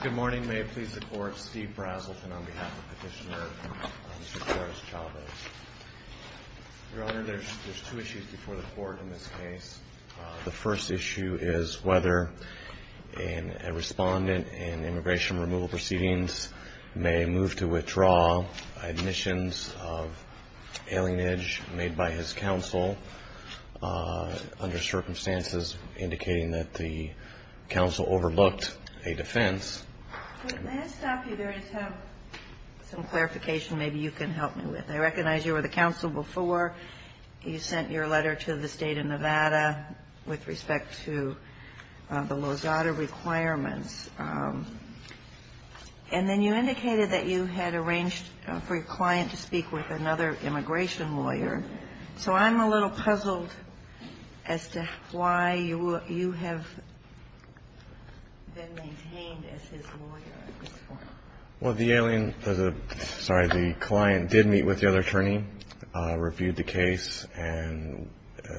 Good morning. May it please the Court, Steve Brazelton on behalf of Petitioner Mr. Torres-Chavez. Your Honor, there's two issues before the Court in this case. The first issue is whether a respondent in immigration removal proceedings may move to withdraw admissions of alienage made by his counsel under circumstances indicating that the counsel overlooked a defense. May I stop you there and just have some clarification maybe you can help me with? I recognize you were the counsel before. You sent your letter to the state of Nevada with respect to the Lozada requirements. And then you indicated that you had arranged for your client to speak with another immigration lawyer. So I'm a little puzzled as to why you have been maintained as his lawyer in this form. Well, the client did meet with the other attorney, reviewed the case, and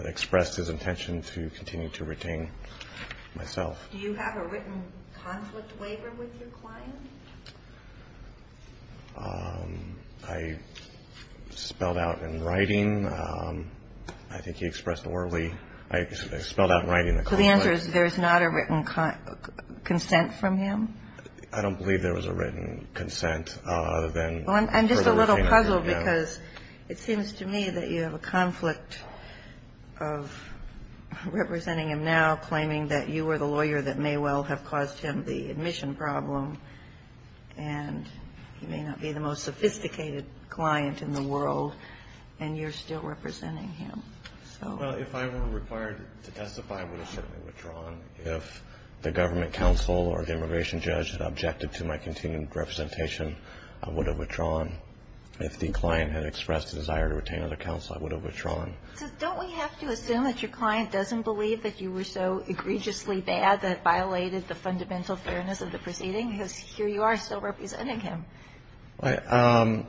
expressed his intention to continue to retain myself. Do you have a written conflict waiver with your client? I spelled out in writing. I think he expressed orally. I spelled out in writing the conflict. So the answer is there's not a written consent from him? I don't believe there was a written consent other than for him to retain himself. Well, I'm just a little puzzled because it seems to me that you have a conflict of representing him now, claiming that you were the lawyer that may well have caused him the admission problem, and he may not be the most sophisticated client in the world, and you're still representing him. Well, if I were required to testify, I would have certainly withdrawn. If the government counsel or the immigration judge had objected to my continued representation, I would have withdrawn. If the client had expressed a desire to retain other counsel, I would have withdrawn. So don't we have to assume that your client doesn't believe that you were so egregiously bad that it violated the fundamental fairness of the proceeding, because here you are still representing him? I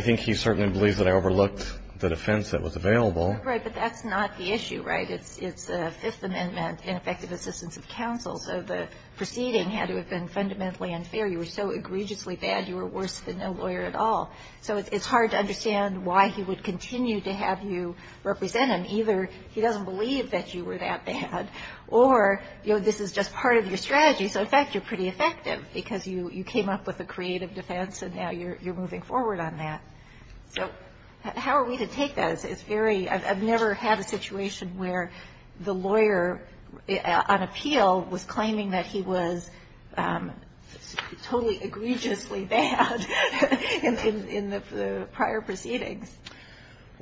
think he certainly believes that I overlooked the defense that was available. Right, but that's not the issue, right? It's the Fifth Amendment and effective assistance of counsel. So the proceeding had to have been fundamentally unfair. You were so egregiously bad, you were worse than no lawyer at all. So it's hard to understand why he would continue to have you represent him. Either he doesn't believe that you were that bad, or, you know, this is just part of your strategy. So, in fact, you're pretty effective because you came up with a creative defense, and now you're moving forward on that. So how are we to take that? It's very – I've never had a situation where the lawyer on appeal was claiming that he was totally egregiously bad in the prior proceedings.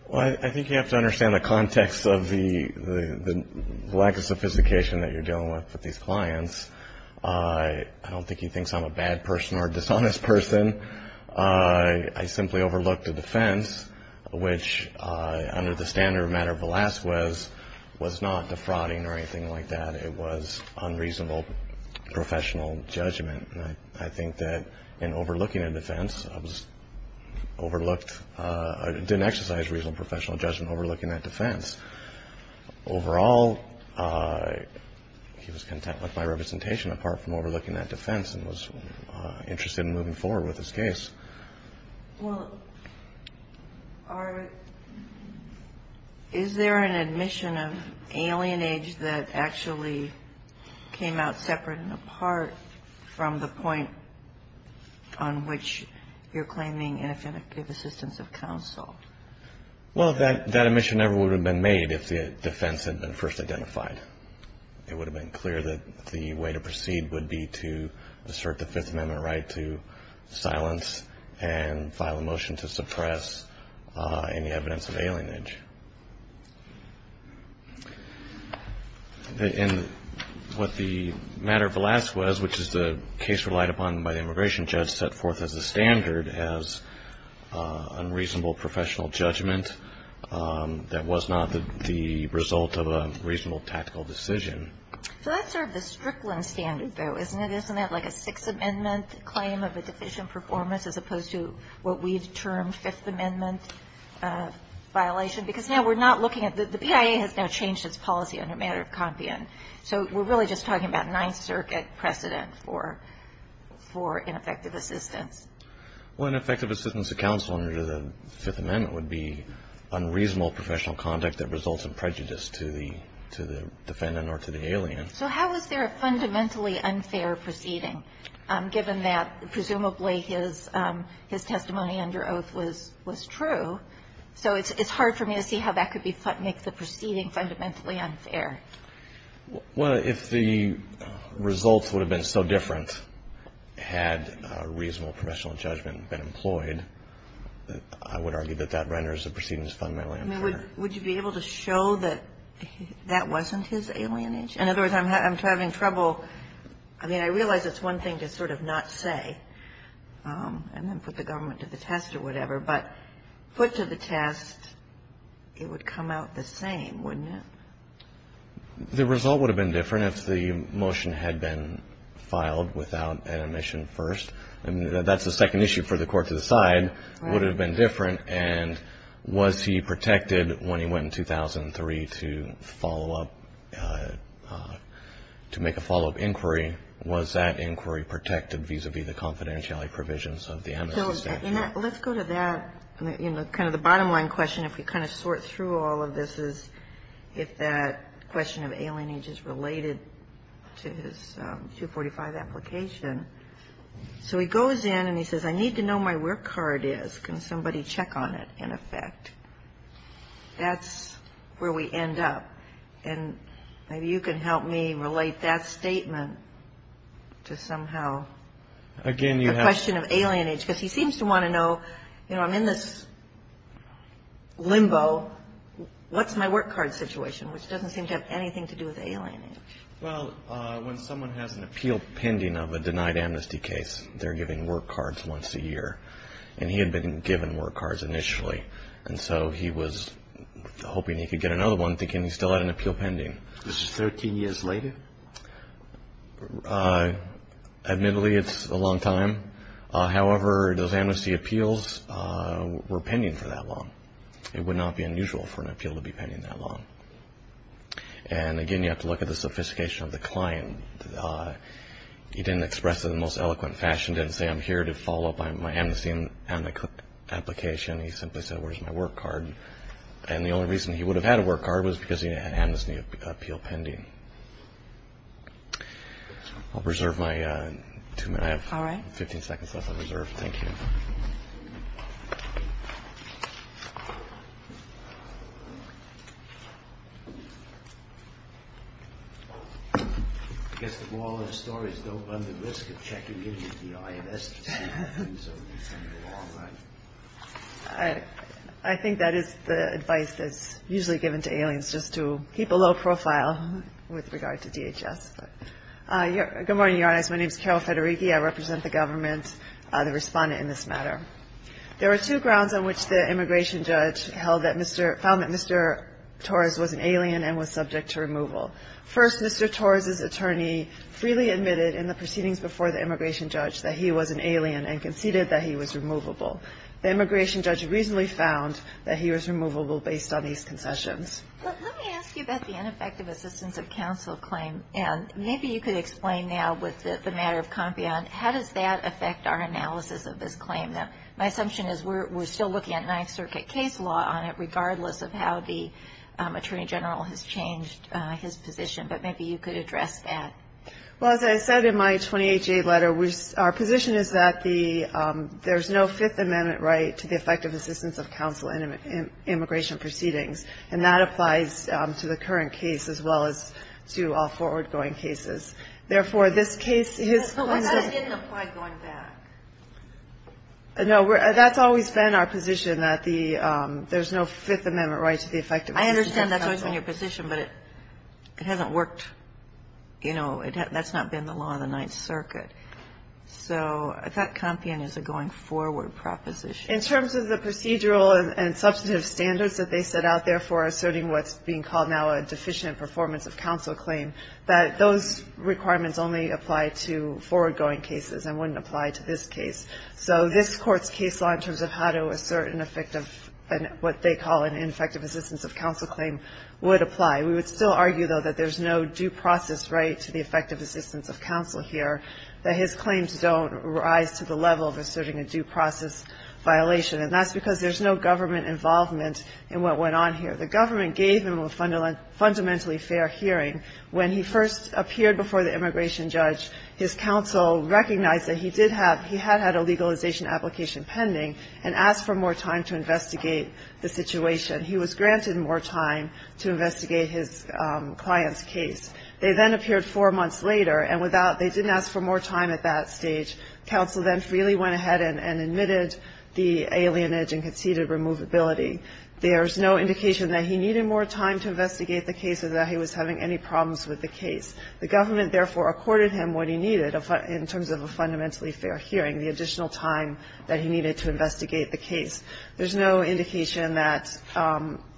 Well, I think you have to understand the context of the lack of sophistication that you're dealing with with these clients. I don't think he thinks I'm a bad person or a dishonest person. I simply overlooked a defense which, under the standard of matter of the last was, was not defrauding or anything like that. It was unreasonable professional judgment. And I think that in overlooking a defense, I was overlooked – I didn't exercise reasonable professional judgment overlooking that defense. Overall, he was content with my representation apart from overlooking that defense and was interested in moving forward with his case. Well, are – is there an admission of alienage that actually came out separate and apart from the point on which you're claiming ineffective assistance of counsel? Well, that admission never would have been made if the defense had been first identified. It would have been clear that the way to proceed would be to assert the Fifth Amendment right to silence and file a motion to suppress any evidence of alienage. In what the matter of the last was, which is the case relied upon by the immigration judge, as unreasonable professional judgment that was not the result of a reasonable tactical decision. So that's sort of the Strickland standard, though, isn't it? Isn't that like a Sixth Amendment claim of a deficient performance as opposed to what we've termed Fifth Amendment violation? Because now we're not looking at – the PIA has now changed its policy under matter of compian. So we're really just talking about Ninth Circuit precedent for ineffective assistance. Well, ineffective assistance of counsel under the Fifth Amendment would be unreasonable professional conduct that results in prejudice to the defendant or to the alien. So how is there a fundamentally unfair proceeding given that presumably his testimony under oath was true? So it's hard for me to see how that could make the proceeding fundamentally unfair. Well, if the results would have been so different had reasonable professional judgment been employed, I would argue that that renders the proceedings fundamentally unfair. I mean, would you be able to show that that wasn't his alienage? In other words, I'm having trouble – I mean, I realize it's one thing to sort of not say and then put the government to the test or whatever, but put to the test, it would come out the same, wouldn't it? The result would have been different if the motion had been filed without an omission first. I mean, that's the second issue for the court to decide. Right. Would it have been different? And was he protected when he went in 2003 to follow up – to make a follow-up inquiry? Was that inquiry protected vis-a-vis the confidentiality provisions of the amnesty statute? Let's go to that. You know, kind of the bottom line question, if we kind of sort through all of this, is if that question of alienage is related to his 245 application. So he goes in and he says, I need to know my work card is. Can somebody check on it, in effect? That's where we end up. And maybe you can help me relate that statement to somehow the question of alienage. Because he seems to want to know, you know, I'm in this limbo. What's my work card situation? Which doesn't seem to have anything to do with alienage. Well, when someone has an appeal pending of a denied amnesty case, they're given work cards once a year. And he had been given work cards initially. And so he was hoping he could get another one, thinking he still had an appeal pending. Was this 13 years later? Admittedly, it's a long time. However, those amnesty appeals were pending for that long. It would not be unusual for an appeal to be pending that long. And, again, you have to look at the sophistication of the client. He didn't express it in the most eloquent fashion. He didn't say, I'm here to follow up on my amnesty application. He simply said, where's my work card? And the only reason he would have had a work card was because he had an amnesty appeal pending. I'll reserve my two minutes. I have 15 seconds left on reserve. Thank you. I guess the moral of the story is don't run the risk of checking in with the INS. I think that is the advice that's usually given to aliens, just to keep a low profile. With regard to DHS. Good morning, Your Honor. My name is Carol Federighi. I represent the government, the respondent in this matter. There are two grounds on which the immigration judge found that Mr. Torres was an alien and was subject to removal. First, Mr. Torres's attorney freely admitted in the proceedings before the immigration judge that he was an alien and conceded that he was removable. The immigration judge reasonably found that he was removable based on these concessions. Let me ask you about the ineffective assistance of counsel claim. And maybe you could explain now with the matter of Compion, how does that affect our analysis of this claim? Now, my assumption is we're still looking at Ninth Circuit case law on it, regardless of how the attorney general has changed his position. But maybe you could address that. Well, as I said in my 28-J letter, our position is that there's no Fifth Amendment right to the effective assistance of counsel in immigration proceedings. And that applies to the current case as well as to all forward-going cases. Therefore, this case is going to be ---- Well, that didn't apply going back. No. That's always been our position, that there's no Fifth Amendment right to the effective assistance of counsel. I understand that's always been your position, but it hasn't worked. You know, that's not been the law in the Ninth Circuit. So I thought Compion is a going-forward proposition. In terms of the procedural and substantive standards that they set out there for asserting what's being called now a deficient performance of counsel claim, that those requirements only apply to forward-going cases and wouldn't apply to this case. So this Court's case law in terms of how to assert an effective and what they call an ineffective assistance of counsel claim would apply. We would still argue, though, that there's no due process right to the effective assistance of counsel here, that his claims don't rise to the level of asserting a due process violation. And that's because there's no government involvement in what went on here. The government gave him a fundamentally fair hearing. When he first appeared before the immigration judge, his counsel recognized that he did have ---- he had had a legalization application pending and asked for more time to investigate the situation. He was granted more time to investigate his client's case. They then appeared four months later, and without ---- they didn't ask for more time at that stage. Counsel then freely went ahead and admitted the alienage and conceded removability. There's no indication that he needed more time to investigate the case or that he was having any problems with the case. The government, therefore, accorded him what he needed in terms of a fundamentally fair hearing, the additional time that he needed to investigate the case. There's no indication that,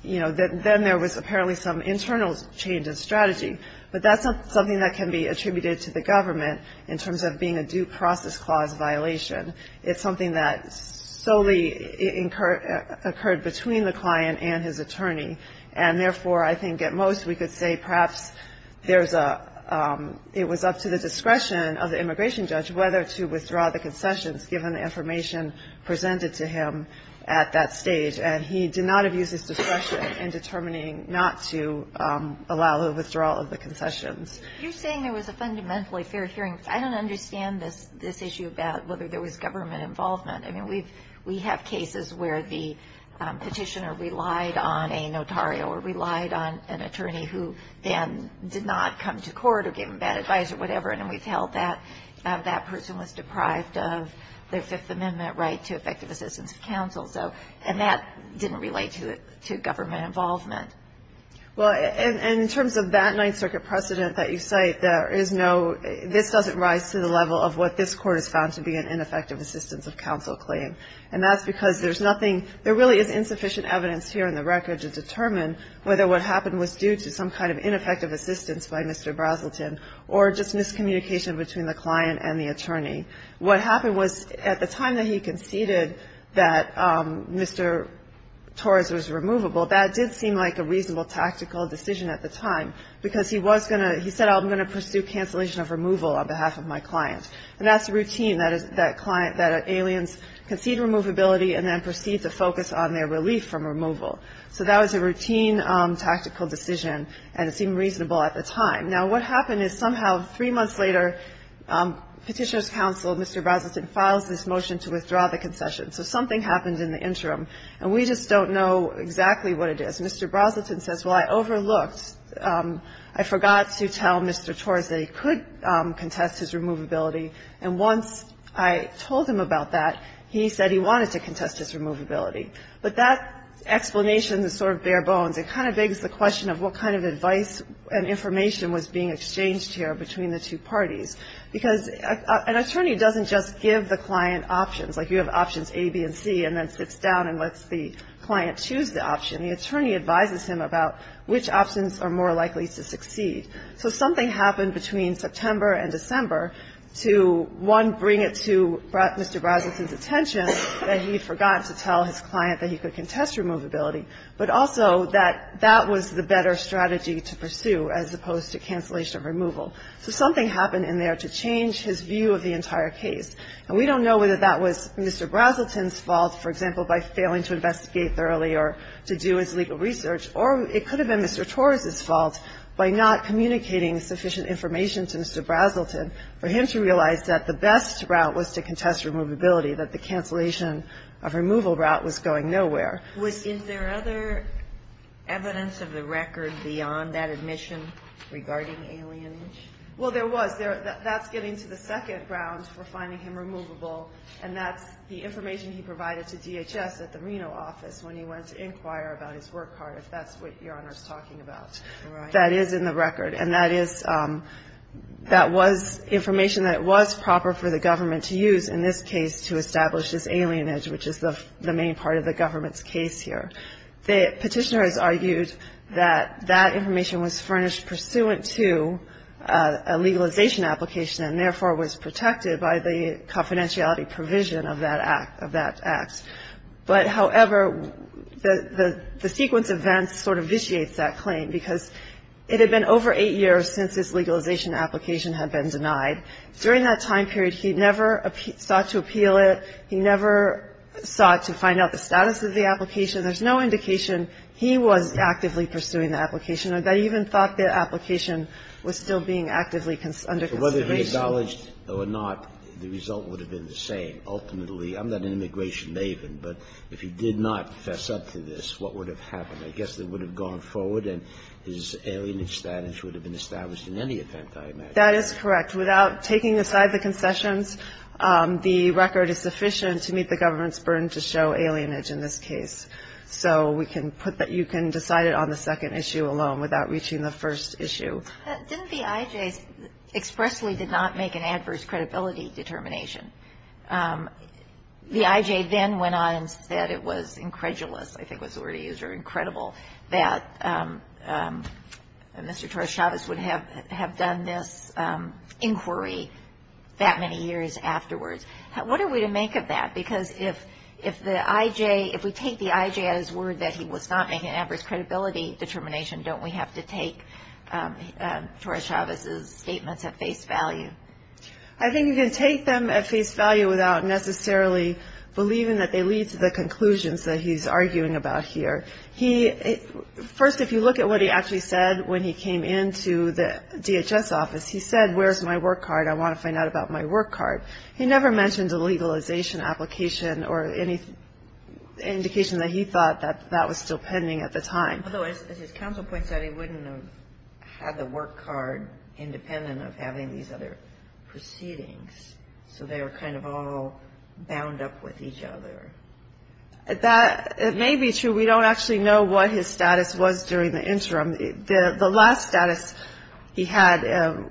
you know, that then there was apparently some internal change in strategy. But that's not something that can be attributed to the government in terms of being a due process clause violation. It's something that solely occurred between the client and his attorney. And therefore, I think at most we could say perhaps there's a ---- it was up to the discretion of the immigration judge whether to withdraw the concessions given the information presented to him at that stage. And he did not abuse his discretion in determining not to allow the withdrawal of the concessions. You're saying there was a fundamentally fair hearing. I don't understand this issue about whether there was government involvement. I mean, we have cases where the petitioner relied on a notario or relied on an attorney who then did not come to court or give him bad advice or whatever, and then we've held that that person was deprived of their Fifth Amendment right to effective assistance of counsel. And that didn't relate to government involvement. Well, and in terms of that Ninth Circuit precedent that you cite, there is no ---- this doesn't rise to the level of what this Court has found to be an ineffective assistance of counsel claim. And that's because there's nothing ---- there really is insufficient evidence here in the record to determine whether what happened was due to some kind of ineffective assistance by Mr. Braselton What happened was, at the time that he conceded that Mr. Torres was removable, that did seem like a reasonable tactical decision at the time, because he was going to ---- he said, I'm going to pursue cancellation of removal on behalf of my client. And that's routine, that is, that client, that aliens concede removability and then proceed to focus on their relief from removal. So that was a routine tactical decision, and it seemed reasonable at the time. Now, what happened is somehow three months later, Petitioner's counsel, Mr. Braselton, files this motion to withdraw the concession. So something happened in the interim. And we just don't know exactly what it is. Mr. Braselton says, well, I overlooked, I forgot to tell Mr. Torres that he could contest his removability, and once I told him about that, he said he wanted to contest his removability. But that explanation is sort of bare bones. It kind of begs the question of what kind of advice and information was being exchanged here between the two parties. Because an attorney doesn't just give the client options, like you have options A, B, and C, and then sits down and lets the client choose the option. The attorney advises him about which options are more likely to succeed. So something happened between September and December to, one, bring it to Mr. Braselton's attention that he forgot to tell his client that he could contest removability, but also that that was the better strategy to pursue as opposed to cancellation of removal. So something happened in there to change his view of the entire case. And we don't know whether that was Mr. Braselton's fault, for example, by failing to investigate thoroughly or to do his legal research, or it could have been Mr. Torres's fault by not communicating sufficient information to Mr. Braselton for him to realize that the best route was to contest removability, that the cancellation of removal route was going nowhere. Was there other evidence of the record beyond that admission regarding alienage? Well, there was. That's getting to the second ground for finding him removable, and that's the information he provided to DHS at the Reno office when he went to inquire about his work card, if that's what Your Honor is talking about. That is in the record. And that is that was information that was proper for the government to use in this case to establish this alienage, which is the main part of the government's case here. The petitioner has argued that that information was furnished pursuant to a legalization application and, therefore, was protected by the confidentiality provision of that act. But, however, the sequence of events sort of vitiates that claim because it had been over eight years since this legalization application had been denied. During that time period, he never sought to appeal it. He never sought to find out the status of the application. There's no indication he was actively pursuing the application. I even thought the application was still being actively under consideration. But whether he acknowledged or not, the result would have been the same. Ultimately, I'm not an immigration maven, but if he did not fess up to this, what would have happened? I guess it would have gone forward and his alienage status would have been established in any event, I imagine. That is correct. Without taking aside the concessions, the record is sufficient to meet the government's burden to show alienage in this case. So we can put that you can decide it on the second issue alone without reaching the first issue. Didn't the I.J. expressly did not make an adverse credibility determination? The I.J. then went on and said it was incredulous, I think was the word he used, or incredible, that Mr. Torres-Chavez would have done this inquiry that many years afterwards. What are we to make of that? Because if we take the I.J. at his word that he was not making an adverse credibility determination, don't we have to take Torres-Chavez's statements at face value? I think you can take them at face value without necessarily believing that they lead to the conclusions that he's arguing about here. First, if you look at what he actually said when he came into the DHS office, he said, where's my work card, I want to find out about my work card. He never mentioned a legalization application or any indication that he thought that that was still pending at the time. Although, as his counsel points out, he wouldn't have had the work card independent of having these other proceedings. So they were kind of all bound up with each other. That may be true. We don't actually know what his status was during the interim. The last status he had,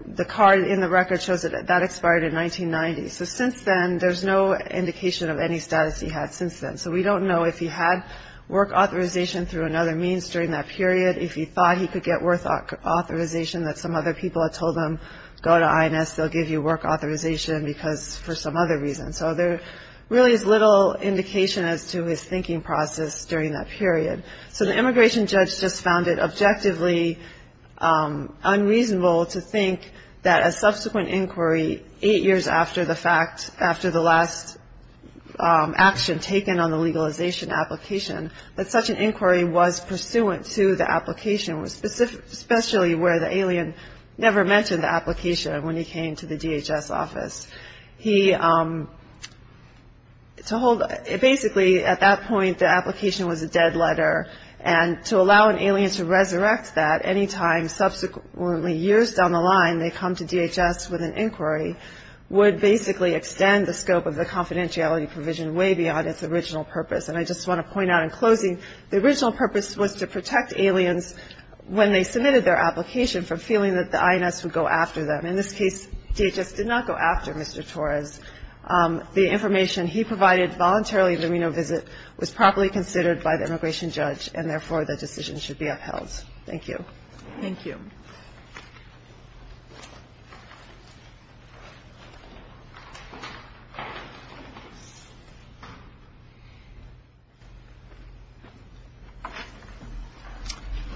the card in the record shows that that expired in 1990. So since then, there's no indication of any status he had since then. So we don't know if he had work authorization through another means during that period, if he thought he could get work authorization that some other people had told him, go to INS, they'll give you work authorization for some other reason. So there really is little indication as to his thinking process during that period. So the immigration judge just found it objectively unreasonable to think that a subsequent inquiry, eight years after the fact, after the last action taken on the legalization application, that such an inquiry was pursuant to the application, especially where the alien never mentioned the application when he came to the DHS office. He, to hold, basically at that point, the application was a dead letter. And to allow an alien to resurrect that any time subsequently, years down the line, they come to DHS with an inquiry, would basically extend the scope of the confidentiality provision way beyond its original purpose. And I just want to point out in closing, the original purpose was to protect aliens when they submitted their application from feeling that the INS would go after them. In this case, DHS did not go after Mr. Torres. The information he provided voluntarily in the Reno visit was properly considered by the immigration judge, and therefore, the decision should be upheld. Thank you. Thank you.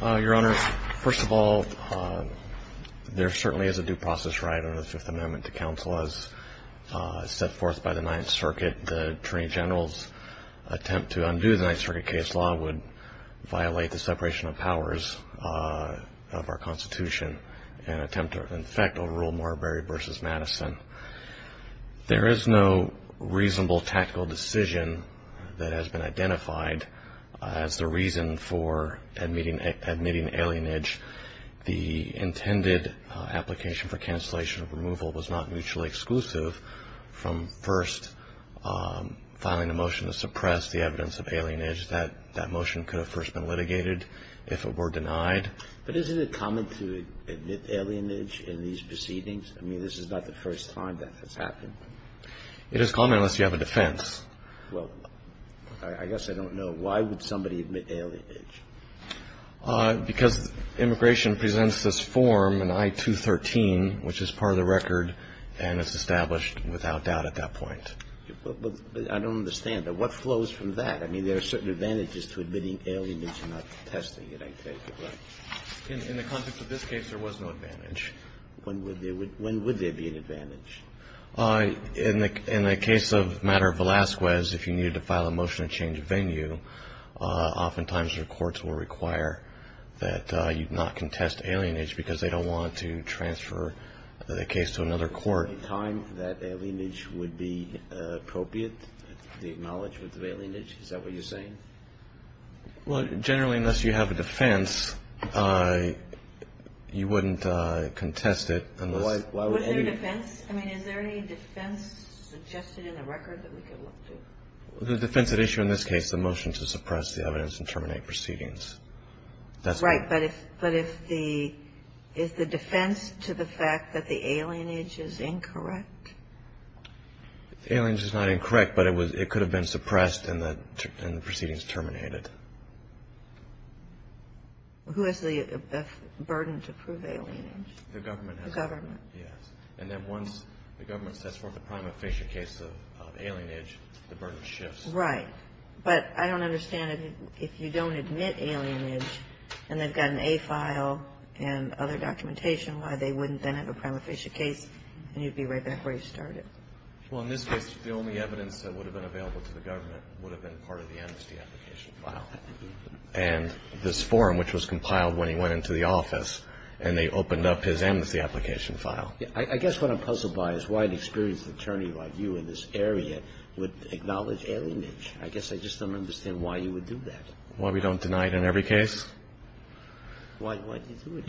Your Honor, first of all, there certainly is a due process right under the Fifth Amendment to counsel as set forth by the Ninth Circuit. The Attorney General's attempt to undo the Ninth Circuit case law would violate the separation of powers of our Constitution and attempt to, in effect, overrule Marbury v. Madison. There is no reasonable tactical decision that has been identified as the reason for admitting alienage. The intended application for cancellation of removal was not mutually exclusive from first filing a motion to suppress the evidence of alienage. That motion could have first been litigated if it were denied. But isn't it common to admit alienage in these proceedings? I mean, this is not the first time that has happened. It is common unless you have a defense. Well, I guess I don't know. Why would somebody admit alienage? Because immigration presents this form in I-213, which is part of the record, and it's established without doubt at that point. But I don't understand. What flows from that? I mean, there are certain advantages to admitting alienage and not contesting it, I take it. In the context of this case, there was no advantage. When would there be an advantage? In the case of matter of Velazquez, if you needed to file a motion to change venue, oftentimes your courts will require that you not contest alienage because they don't want to transfer the case to another court. So you're saying that by the time that alienage would be appropriate, the acknowledgement of alienage, is that what you're saying? Well, generally, unless you have a defense, you wouldn't contest it unless you have a defense. Well, is there a defense? I mean, is there any defense suggested in the record that we could look to? The defense at issue in this case is the motion to suppress the evidence and terminate proceedings. Right. But if the defense to the fact that the alienage is incorrect? The alienage is not incorrect, but it could have been suppressed and the proceedings terminated. Who has the burden to prove alienage? The government. The government. Yes. And then once the government sets forth a prima facie case of alienage, the burden shifts. Right. But I don't understand if you don't admit alienage and they've got an A file and other documentation, why they wouldn't then have a prima facie case and you'd be right back where you started. Well, in this case, the only evidence that would have been available to the government would have been part of the amnesty application file. And this forum, which was compiled when he went into the office, and they opened up his amnesty application file. I guess what I'm puzzled by is why an experienced attorney like you in this area would admit alienage. I guess I just don't understand why you would do that. Why we don't deny it in every case? Why do you do it?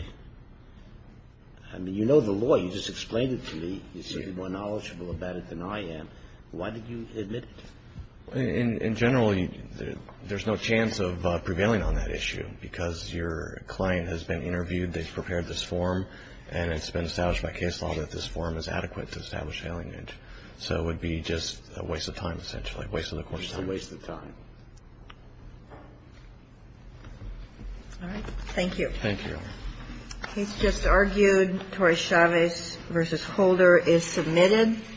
I mean, you know the law. You just explained it to me. You seem to be more knowledgeable about it than I am. Why did you admit it? In general, there's no chance of prevailing on that issue because your client has been interviewed, they've prepared this form, and it's been established by case law that this form is adequate to establish alienage. So it would be just a waste of time, essentially, a waste of the court's time. Just a waste of time. All right. Thank you. Thank you, Your Honor. The case just argued, Torres-Chavez v. Holder, is submitted.